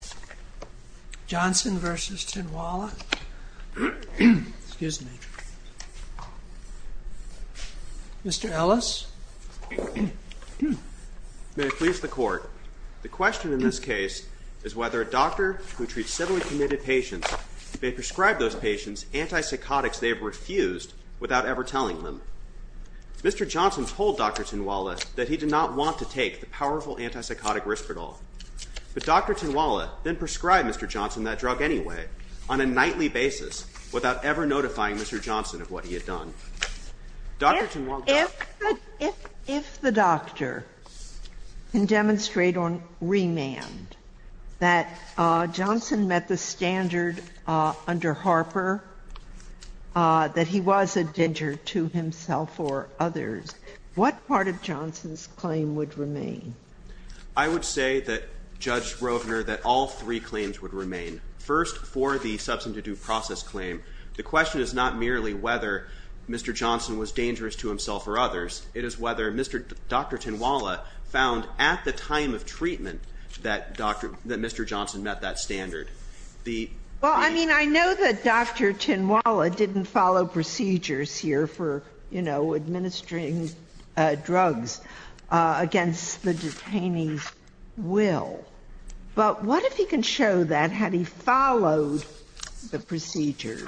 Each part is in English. The question in this case is whether a doctor who treats civilly committed patients may prescribe those patients antipsychotics they have refused without ever telling them. Mr. Johnson told Dr. Tinwalla that he did not want to take the powerful antipsychotic Risperdal. But Dr. Tinwalla then prescribed Mr. Johnson that drug anyway on a nightly basis without ever notifying Mr. Johnson of what he had done. Dr. Tinwalla Sotomayor If the doctor can demonstrate on remand that Johnson met the standard under Harper that he was a danger to himself or others, what part of Johnson's claim would remain? Mr. Johnson I would say that, Judge Rovner, that all three claims would remain. First, for the substance-induced process claim, the question is not merely whether Mr. Johnson was dangerous to himself or others. It is whether Dr. Tinwalla found at the time of treatment that Mr. Johnson met that standard. Dr. Rovner Well, I mean, I know that Dr. Tinwalla didn't follow procedures here for, you know, administering drugs against the detainee's will. But what if he can show that, had he followed the procedures,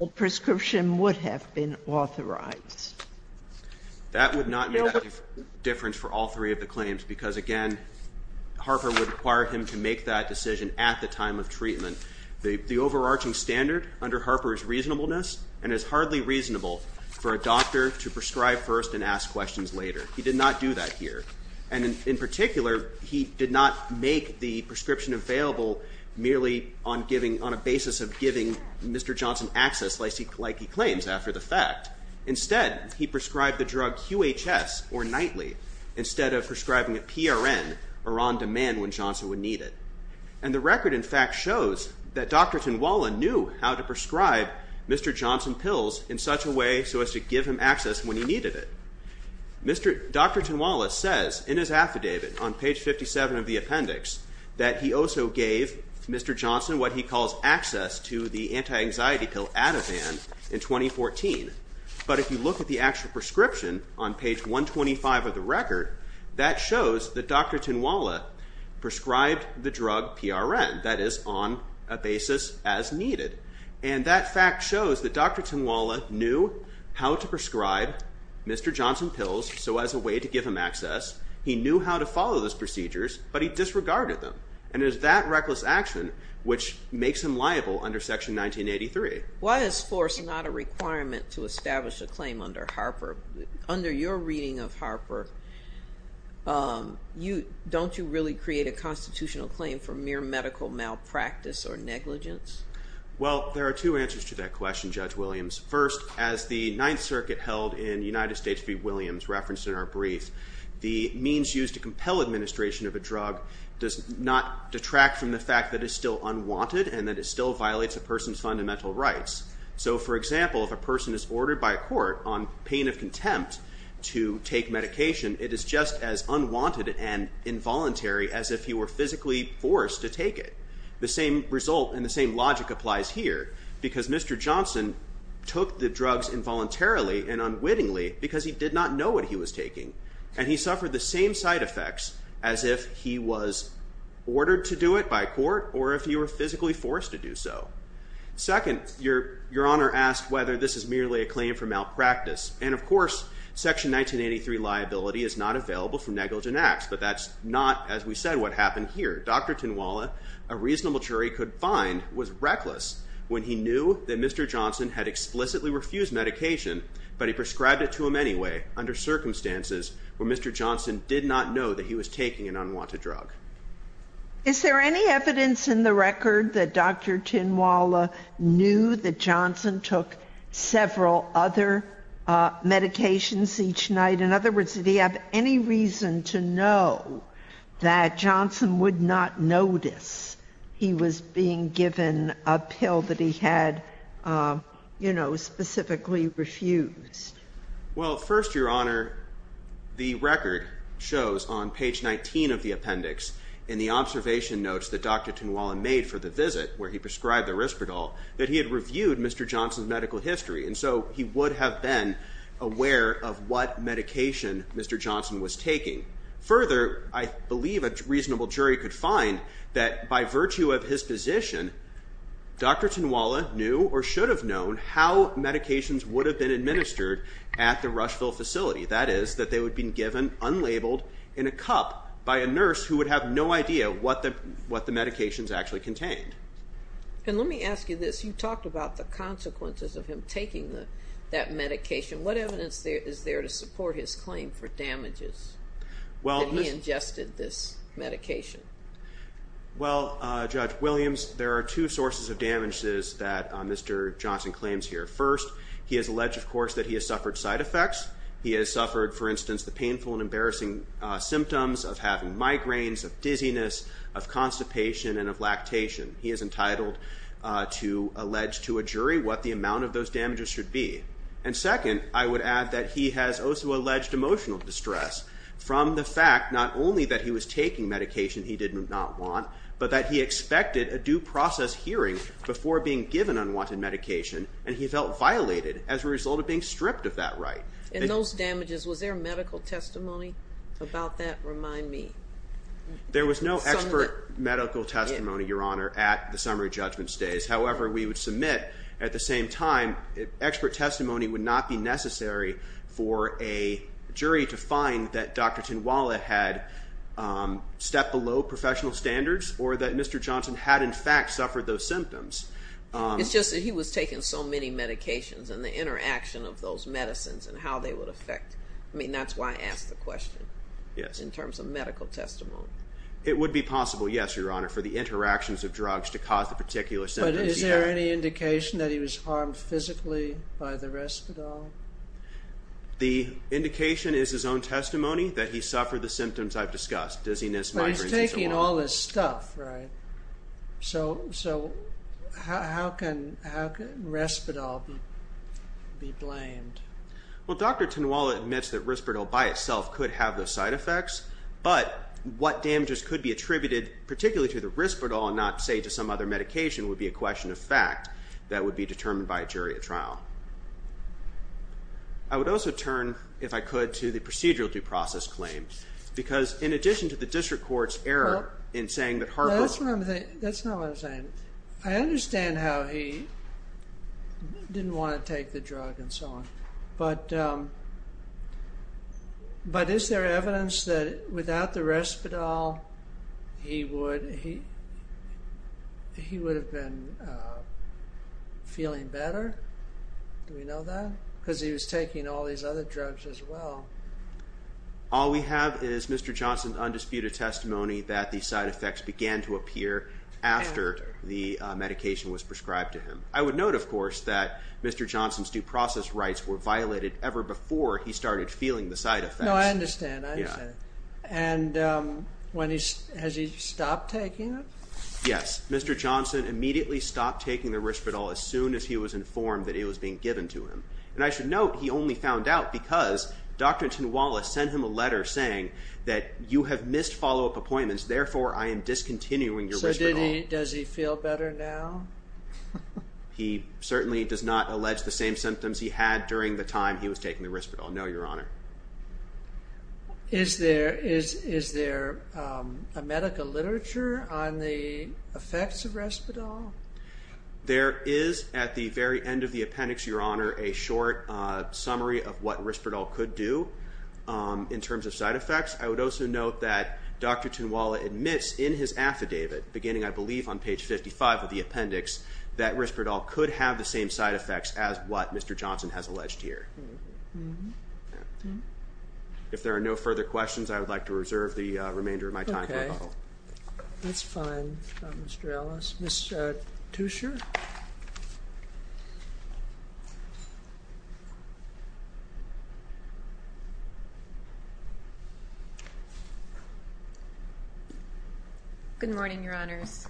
a prescription would have been authorized? Mr. Johnson That would not make a difference for all three of the claims because, again, Harper would require him to make that decision at the time of treatment. The overarching standard under Harper is reasonableness and is hardly reasonable for a doctor to prescribe first and ask questions later. He did not do that here. And in particular, he did not make the prescription available merely on a basis of giving Mr. Johnson access, like he claims, after the fact. Instead, he prescribed the drug QHS, or nightly, instead of prescribing a PRN, or on-demand, when Johnson would need it. And the record, in fact, shows that Dr. Tinwalla knew how to prescribe Mr. Johnson access when he needed it. Dr. Tinwalla says in his affidavit on page 57 of the appendix that he also gave Mr. Johnson what he calls access to the anti-anxiety pill Ativan in 2014. But if you look at the actual prescription on page 125 of the record, that shows that Dr. Tinwalla prescribed the drug PRN, that is, on a basis as needed. And that fact shows that Dr. Tinwalla knew how to prescribe Mr. Johnson pills, so as a way to give him access. He knew how to follow those procedures, but he disregarded them. And it is that reckless action which makes him liable under Section 1983. Why is force not a requirement to establish a claim under Harper? Under your reading of Harper, don't you really create a constitutional claim for mere medical malpractice or negligence? Well, there are two answers to that question, Judge Williams. First, as the Ninth Circuit held in United States v. Williams, referenced in our brief, the means used to compel administration of a drug does not detract from the fact that it is still unwanted and that it still violates a person's fundamental rights. So, for example, if a person is ordered by a court on pain of contempt to take medication, it is just as unwanted and involuntary as if he were ordered to do it by court or if he were physically forced to do so. Second, your Honor asked whether this is merely a claim for malpractice. And of course, Section 1983 liability is not available for negligent acts, but that's not, as we said, what happened here. Dr. Tinwala, a reasonable jury, could find was reckless when he knew that Mr. Johnson had explicitly refused medication, but he prescribed it to him anyway under circumstances where Mr. Johnson did not know that he was taking an unwanted drug. Is there any evidence in the record that Dr. Tinwala knew that Johnson took several other medications each night? In other words, did he have any reason to know that Johnson would not notice he was being given a pill that he had, you know, specifically refused? Well, first, your Honor, the record shows on page 19 of the appendix in the observation notes that Dr. Tinwala made for the visit where he prescribed the Risperdal that he had reviewed Mr. Johnson's medical history, and so he would have been aware of what medication Mr. Johnson was taking. Further, I believe a reasonable jury could find that by virtue of his position, Dr. Tinwala knew or should have known how medications would have been administered at the Rushville facility. That is, that they would have been given unlabeled in a cup by a nurse who would have no idea what the medications actually contained. And let me ask you this. You talked about the consequences of him taking that medication. What evidence is there to support his claim for damages that he ingested this medication? Well, Judge Williams, there are two sources of damages that Mr. Johnson claims here. First, he has alleged, of course, that he has suffered side effects. He has suffered, for instance, the painful and embarrassing symptoms of having migraines, of dizziness, of constipation, and of lactation. He is entitled to allege to a jury what the amount of those damages should be. And second, I would add that he has also alleged emotional distress from the fact not only that he was taking medication he did not want, but that he expected a due process hearing before being given unwanted medication, and he felt violated as a result of being stripped of that right. And those damages, was there medical testimony about that? Remind me. There was no expert medical testimony, Your Honor, at the summary judgment stays. However, we would submit at the same time, expert testimony would not be necessary for a jury to find that Dr. Tinwala had stepped below professional standards or that Mr. Johnson had in fact suffered those symptoms. It's just that he was taking so many medications and the interaction of those medicines and how they would affect, I mean that's why I asked the question, in terms of medical testimony. It would be possible, yes, Your Honor, for the interactions of drugs to cause the particular symptoms he had. But is there any indication that he was harmed physically by the Respidol? The indication is his own testimony that he suffered the symptoms I've discussed, dizziness, migraines, and so on. But he's taking all this stuff, right? So how can Respidol be blamed? Well, Dr. Tinwala admits that Respidol by itself could have those side effects, but what damages could be attributed, particularly to the Respidol and not, say, to some other medication would be a question of fact that would be determined by a jury at trial. I would also turn, if I could, to the procedural due process claim. Because in addition to the district court's error in saying that Harper... That's not what I'm saying. I understand how he didn't want to take the drug and so on. But is there evidence that without the Respidol he would have been feeling better? Do we know that? Because he was taking all these other drugs as well. All we have is Mr. Johnson's undisputed testimony that the side effects began to appear after the medication was prescribed to him. I would note, of course, that Mr. Johnson's due process rights were violated ever before he started feeling the side effects. No, I understand. I understand. And has he stopped taking it? Yes. Mr. Johnson immediately stopped taking the Respidol as soon as he was informed that it was being given to him. And I should note, he only found out because Dr. Tinwala sent him a letter saying that you have missed follow-up appointments, therefore I am discontinuing your Respidol. Does he feel better now? He certainly does not allege the same symptoms he had during the time he was taking the Respidol, no, Your Honor. Is there a medical literature on the effects of Respidol? There is at the very end of the appendix, Your Honor, a short summary of what Respidol could do in terms of side effects. I would also note that Dr. Tinwala admits in his affidavit beginning, I believe, on page 55 of the appendix that Respidol could have the same side effects as what Mr. Johnson has alleged here. If there are no further questions, I would like to reserve the remainder of my time for rebuttal. Okay. That's fine, Mr. Ellis. Ms. Tucher? Good morning, Your Honors.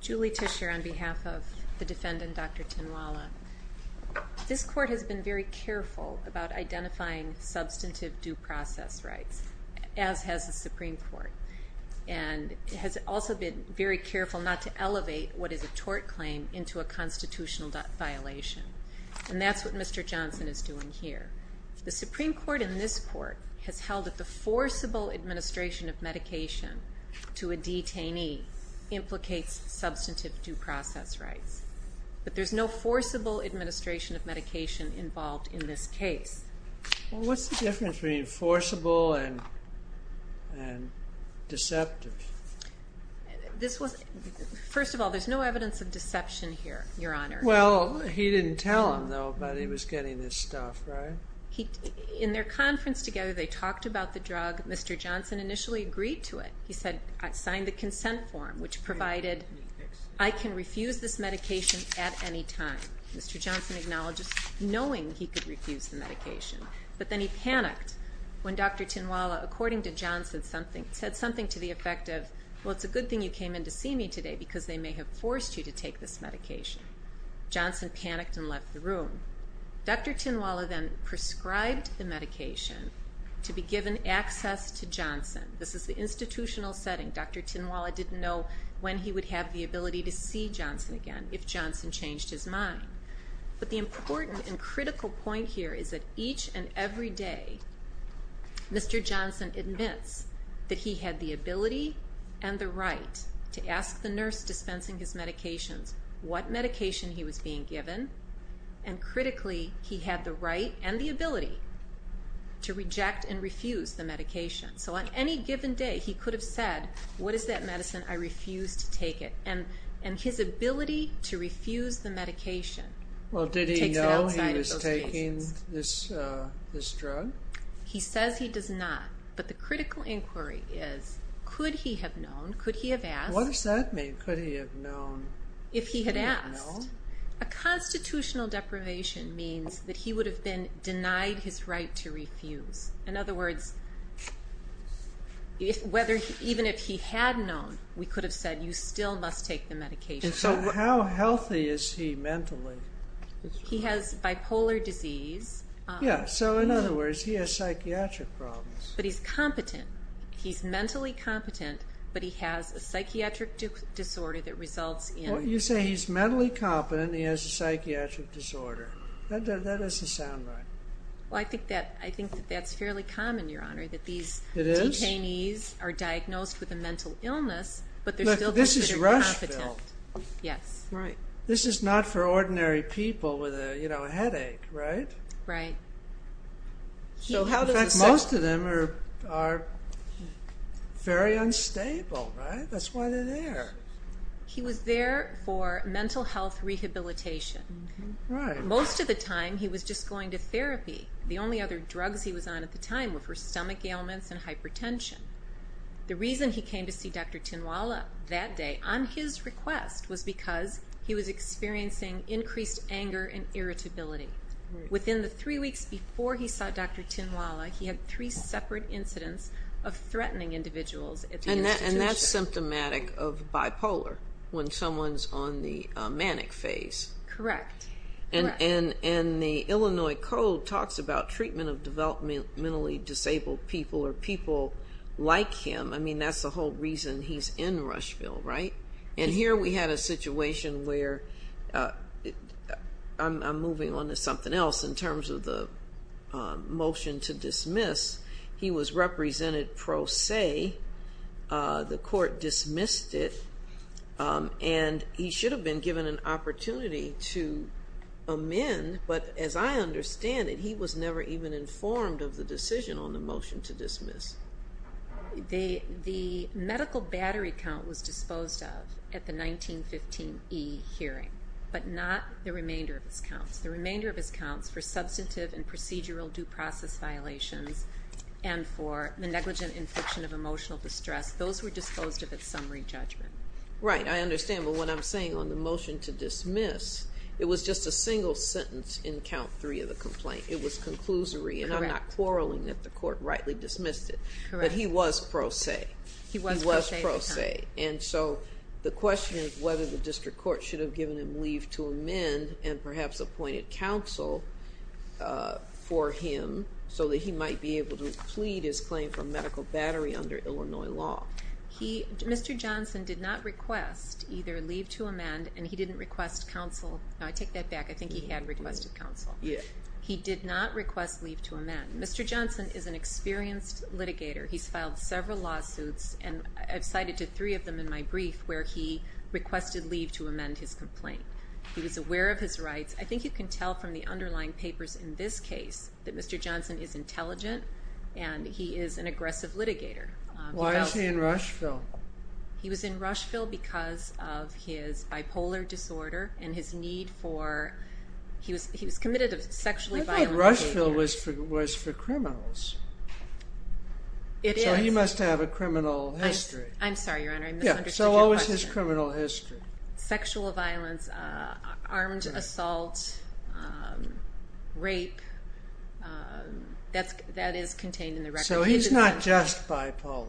Julie Tucher on behalf of the defendant, Dr. Tinwala. This Court has been very careful about identifying substantive due process rights, as has the constitutional violation, and that's what Mr. Johnson is doing here. The Supreme Court in this Court has held that the forcible administration of medication to a detainee implicates substantive due process rights, but there's no forcible administration of medication involved in this case. Well, what's the difference between forcible and deceptive? First of all, there's no evidence of deception here, Your Honor. Well, he didn't tell them, though, that he was getting this stuff, right? In their conference together, they talked about the drug. Mr. Johnson initially agreed to it. He said, I signed the consent form, which provided I can refuse this medication at any time. Mr. Johnson acknowledged this, knowing he could refuse the medication, but then he panicked when Dr. Tinwala, according to Johnson, said something to the effect of, well, it's a good thing you came in to see me today, because they may have forced you to take this medication. Johnson panicked and left the room. Dr. Tinwala then prescribed the medication to be given access to Johnson. This is the institutional setting. Dr. Tinwala didn't know when he would have the ability to see Johnson again, if Johnson changed his mind. But the important and critical point here is that each and every day, Mr. Johnson admits that he had the ability and the right to ask the nurse dispensing his medications what medication he was being given, and critically, he had the right and the ability to reject and refuse the medication. So on any given day, he could have said, what is that medicine? I refuse to take it. And his ability to refuse the medication takes him outside of those patients. Well, did he know he was taking this drug? He says he does not, but the critical inquiry is, could he have known, could he have asked? What does that mean, could he have known? If he had asked. A constitutional deprivation means that he would have been denied his right to refuse. In other words, even if he had known, we could have said, you still must take the medication. And so how healthy is he mentally? He has bipolar disease. Yeah, so in other words, he has psychiatric problems. But he's competent. He's mentally competent, but he has a psychiatric disorder that results in... Well, you say he's mentally competent and he has a psychiatric disorder. That doesn't sound right. Well, I think that's fairly common, Your Honor, that these detainees are diagnosed with a mental illness, but they're still... This is Rushfield. Yes. This is not for ordinary people with a headache, right? Right. In fact, most of them are very unstable, right? That's why they're there. He was there for mental health rehabilitation. Most of the time, he was just going to therapy. The only other drugs he was on at the time were for stomach ailments and hypertension. The reason he came to see Dr. Tinwala that day on his request was because he was experiencing increased anger and irritability. Within the three weeks before he saw Dr. Tinwala, he had three separate incidents of threatening individuals at the institution. And that's symptomatic of bipolar, when someone's on the manic phase. Correct. Correct. And the Illinois Code talks about treatment of developmentally disabled people or people like him. I mean, that's the whole reason he's in Rushfield, right? And here we had a situation where... I'm moving on to something else in terms of the motion to dismiss. He was represented pro se. The court dismissed it, and he should have been given an opportunity to amend, but as I understand it, he was never even informed of the decision on the motion to dismiss. The medical battery count was disposed of at the 1915 E hearing, but not the remainder of his counts. The remainder of his counts for substantive and procedural due process violations and for the negligent infliction of emotional distress, those were disposed of at summary judgment. Right. I understand, but what I'm saying on the motion to dismiss, it was just a single sentence in count three of the complaint. It was conclusory, and I'm not quarreling that the court rightly dismissed it. But he was pro se. He was pro se. And so the question is whether the district court should have given him leave to amend and perhaps appointed counsel for him so that he might be able to plead his claim for medical battery under Illinois law. Mr. Johnson did not request either leave to amend, and he didn't request counsel. No, I take that back. I think he had requested counsel. Yeah. He did not request leave to amend. Mr. Johnson is an experienced litigator. He's filed several lawsuits, and I've cited to three of them in my brief where he requested leave to amend his complaint. He was aware of his rights. I think you can tell from the underlying papers in this case that Mr. Johnson is intelligent, and he is an aggressive litigator. Why is he in Rushville? He was in Rushville because of his bipolar disorder and his need for, he was committed to sexually violent behavior. I thought Rushville was for criminals. It is. So he must have a criminal history. I'm sorry, Your Honor, I misunderstood your question. Yeah, so what was his criminal history? Sexual violence, armed assault, rape, that is contained in the record. So he's not just bipolar.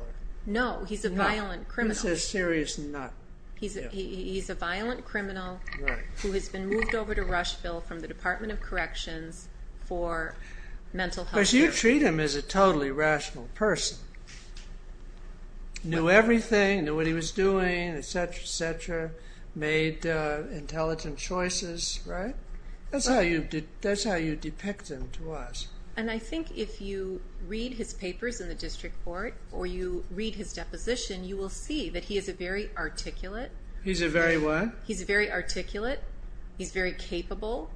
No, he's a violent criminal. He's a serious nut. He's a violent criminal who has been moved over to Rushville from the Department of Corrections for mental health care. Because you treat him as a totally rational person. Knew everything, knew what he was doing, et cetera, et cetera, made intelligent choices, right? That's how you depict him to us. And I think if you read his papers in the district court or you read his deposition, you will see that he is a very articulate. He's a very what? He's very articulate. He's very capable.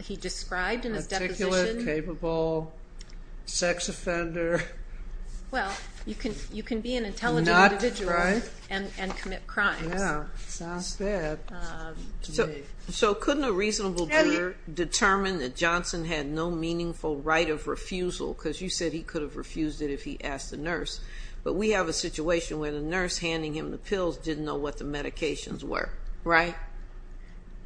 He described in his deposition. Articulate, capable, sex offender. Well, you can be an intelligent individual and commit crimes. Yeah, sounds bad. So couldn't a reasonable juror determine that Johnson had no meaningful right of refusal? Because you said he could have refused it if he asked the nurse. But we have a situation where the nurse handing him the pills didn't know what the medications were, right?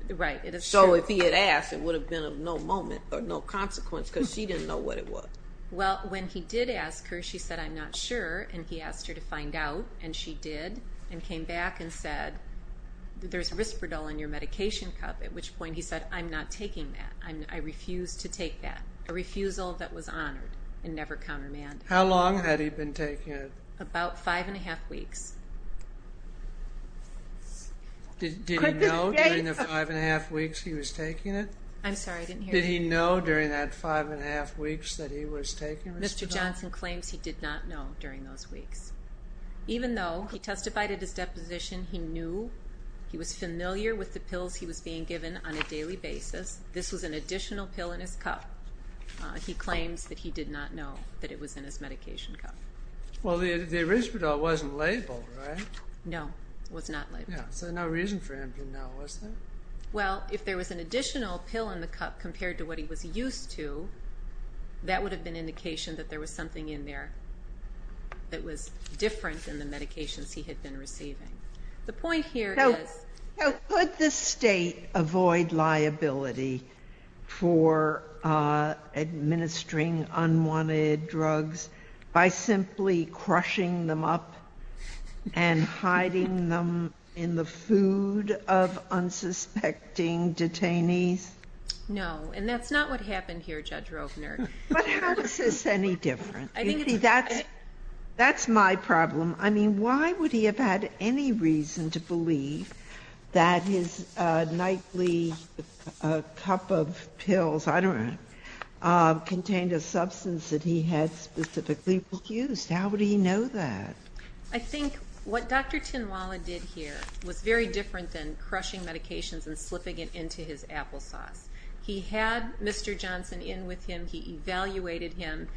Right. So if he had asked, it would have been of no moment or no consequence because she didn't know what it was. Well, when he did ask her, she said, I'm not sure. And he asked her to find out. And she did and came back and said, there's Risperdal in your medication cup. At which point he said, I'm not taking that. I refuse to take that. A refusal that was honored and never countermand. How long had he been taking it? About five and a half weeks. Did he know during the five and a half weeks he was taking it? I'm sorry, I didn't hear you. Did he know during that five and a half weeks that he was taking it? Mr. Johnson claims he did not know during those weeks. Even though he testified at his deposition, he knew, he was familiar with the pills he was being given on a daily basis. This was an additional pill in his cup. He claims that he did not know that it was in his medication cup. Well, the Risperdal wasn't labeled, right? No, it was not labeled. So there was no reason for him to know, was there? Well, if there was an indication, that would have been indication that there was something in there that was different than the medications he had been receiving. The point here is... Now, could the state avoid liability for administering unwanted drugs by simply crushing them up and hiding them in the food of unsuspecting detainees? No, and that's not what happened here, Judge Rovner. But how is this any different? That's my problem. I mean, why would he have had any reason to believe that his nightly cup of pills, I don't know, contained a substance that he had specifically used? How would he know that? I think what Dr. Tinwala did here was very different than crushing medications and slipping it into his applesauce. He had Mr. Johnson in with him. He evaluated him.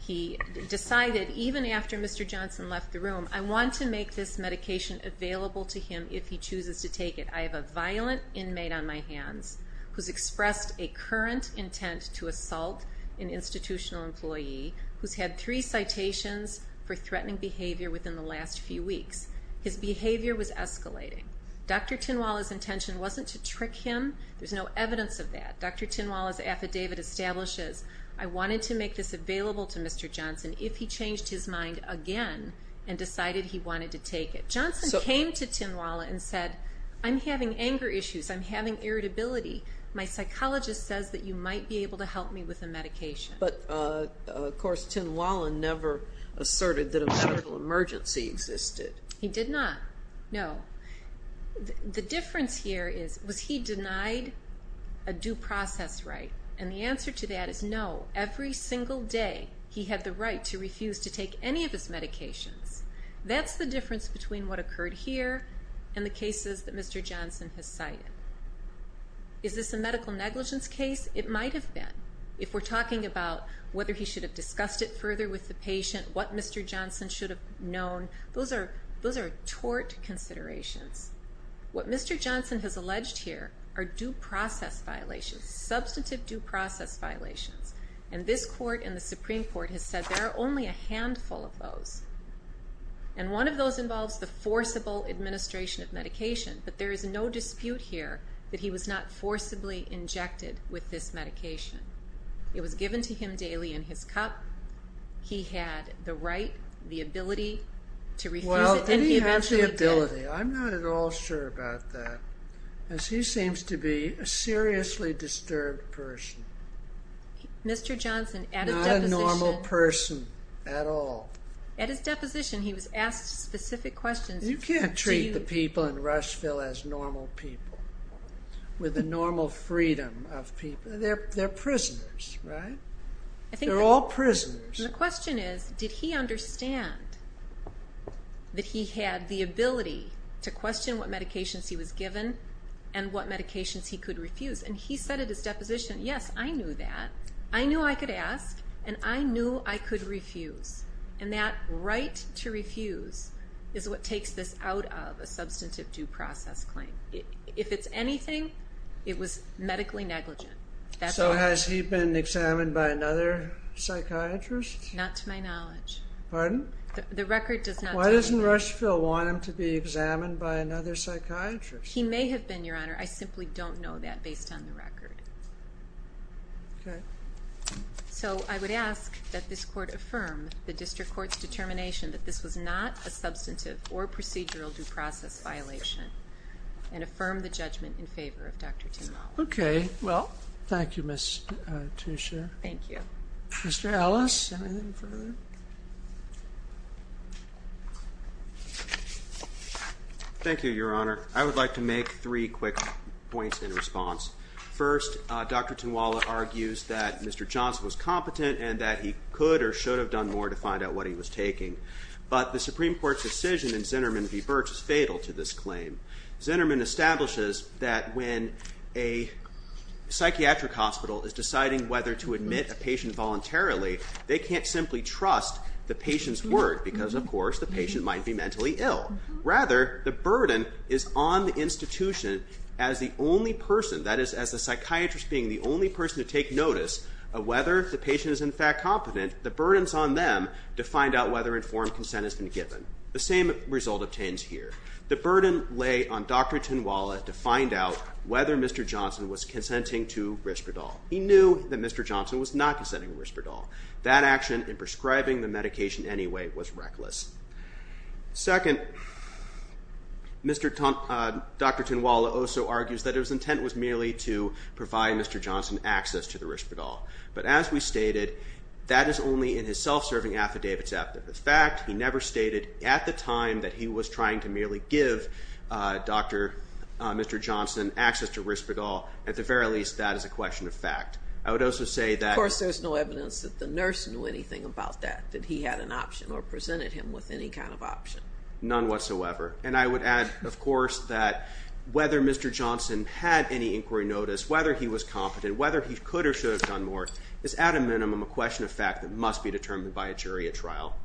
He decided, even after Mr. Johnson left the room, I want to make this medication available to him if he chooses to take it. I have a violent inmate on my hands who's expressed a current intent to assault an institutional employee who's had three citations for threatening behavior within the last few weeks. His behavior was escalating. Dr. Tinwala's intention wasn't to trick him. There's no evidence of that. Dr. Tinwala's affidavit establishes, I wanted to make this available to Mr. Johnson if he changed his mind again and decided he wanted to take it. Johnson came to Tinwala and said, I'm having anger issues. I'm having irritability. My psychologist says that you might be able to help me with a medication. But, of course, Tinwala never asserted that a medical emergency existed. He did not. No. The difference here is, was he denied a due process right? And the answer to that is no. Every single day he had the right to refuse to take any of his medications. That's the difference between what occurred here and the cases that Mr. Johnson has cited. Is this a medical negligence case? It might have been. If we're talking about whether he should have discussed it further with the patient, what Mr. Johnson should have known, those are tort considerations. What Mr. Johnson has alleged here are due process violations. Substantive due process violations. And this court and the Supreme Court has said there are only a handful of those. And one of those involves the forcible administration of medication. But there is no dispute here that he was not forcibly injected with this medication. It was given to him daily in his cup. He had the right, the ability to refuse it and he eventually did. Well, did he have the ability? I'm not at all sure about that. Because he seems to be a seriously disturbed person. Mr. Johnson, at his deposition... Not a normal person at all. At his deposition he was asked specific questions. You can't treat the people in Rushville as normal people. With the normal freedom of people. They're prisoners, right? They're all prisoners. The question is, did he understand that he had the ability to question what medications he was given and what medications he could refuse? And he said at his deposition, yes, I knew that. I knew I could ask and I knew I could refuse. And that right to refuse is what takes this out of a substantive due process claim. If it's anything, it was medically negligent. So has he been examined by another psychiatrist? Not to my knowledge. Pardon? The record does not... Why doesn't Rushville want him to be examined by another psychiatrist? He may have been, Your Honor. I simply don't know that based on the record. Okay. So I would ask that this Court affirm the District Court's determination that this was not a substantive or procedural due process violation and affirm the judgment in favor of Dr. Tynwala. Okay. Well, thank you, Ms. Tuescher. Thank you. Mr. Ellis, anything further? Thank you, Your Honor. I would like to make three quick points in response. First, Dr. Tynwala argues that Mr. Johnson was competent and that he could or should have done more to find out what he was taking. But the Supreme Court's decision in Zinnerman v. Birx is fatal to this claim. Zinnerman establishes that when a psychiatric hospital is deciding whether to admit a patient voluntarily, they can't simply trust the patient's word because, of course, the patient might be mentally ill. Rather, the burden is on the institution as the only person, that is, as the psychiatrist being the only person to take notice of whether the patient is in fact competent, the burden is on them to find out whether informed consent has been given. The same result obtains here. The burden lay on Dr. Tynwala to find out whether Mr. Johnson was consenting to Risperdal. He knew that Mr. Johnson was not consenting to Risperdal. That action in prescribing the medication anyway was reckless. Second, Dr. Tynwala also argues that his intent was merely to provide Mr. Johnson access to the Risperdal. But as we stated, that is only in his self-serving affidavit's aptitude. In fact, he never stated at the time that he was trying to merely give Dr. Johnson access to Risperdal. At the very least, that is a question of fact. I would also say that... Of course, there's no evidence that the nurse knew anything about that, that he had an option or presented him with any kind of option. None whatsoever. And I would add, of course, that whether Mr. Johnson had any inquiry notice, whether he was competent, whether he could or should have done more, is at a minimum a question of fact that must be determined by a jury at trial.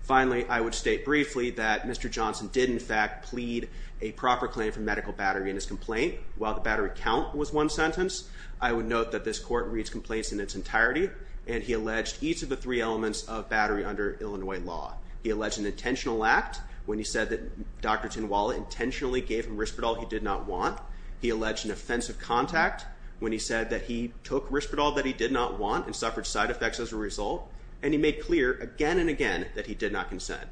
Finally, I would state briefly that Mr. Johnson did in fact plead a proper claim for medical battery in his complaint. While the battery count was one sentence, I would note that this court reads complaints in its entirety, and he alleged each of the three elements of battery under Illinois law. He alleged an intentional act when he said that Dr. Tinwala intentionally gave him Risperdal he did not want. He alleged an offensive contact when he said that he took Risperdal that he did not want and suffered side effects as a result. And he made clear again and again that he did not consent.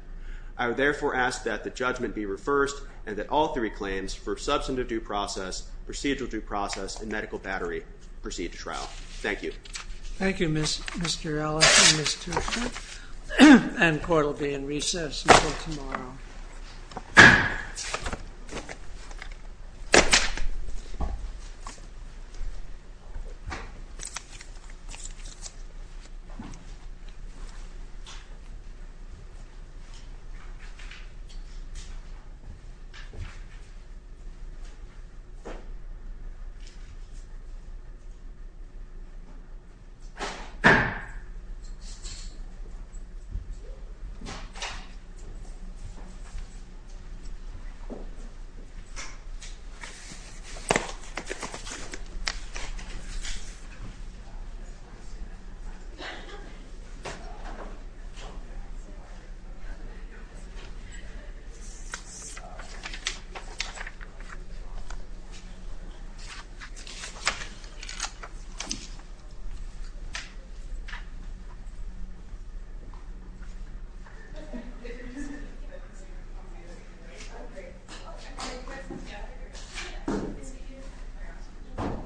I would therefore ask that the judgment be reversed and that all three claims for substantive due process, procedural due process, and medical battery proceed to trial. Thank you. Thank you, Mr. Ellis and Ms. Tushnet. And court will be in recess until tomorrow. Thank you.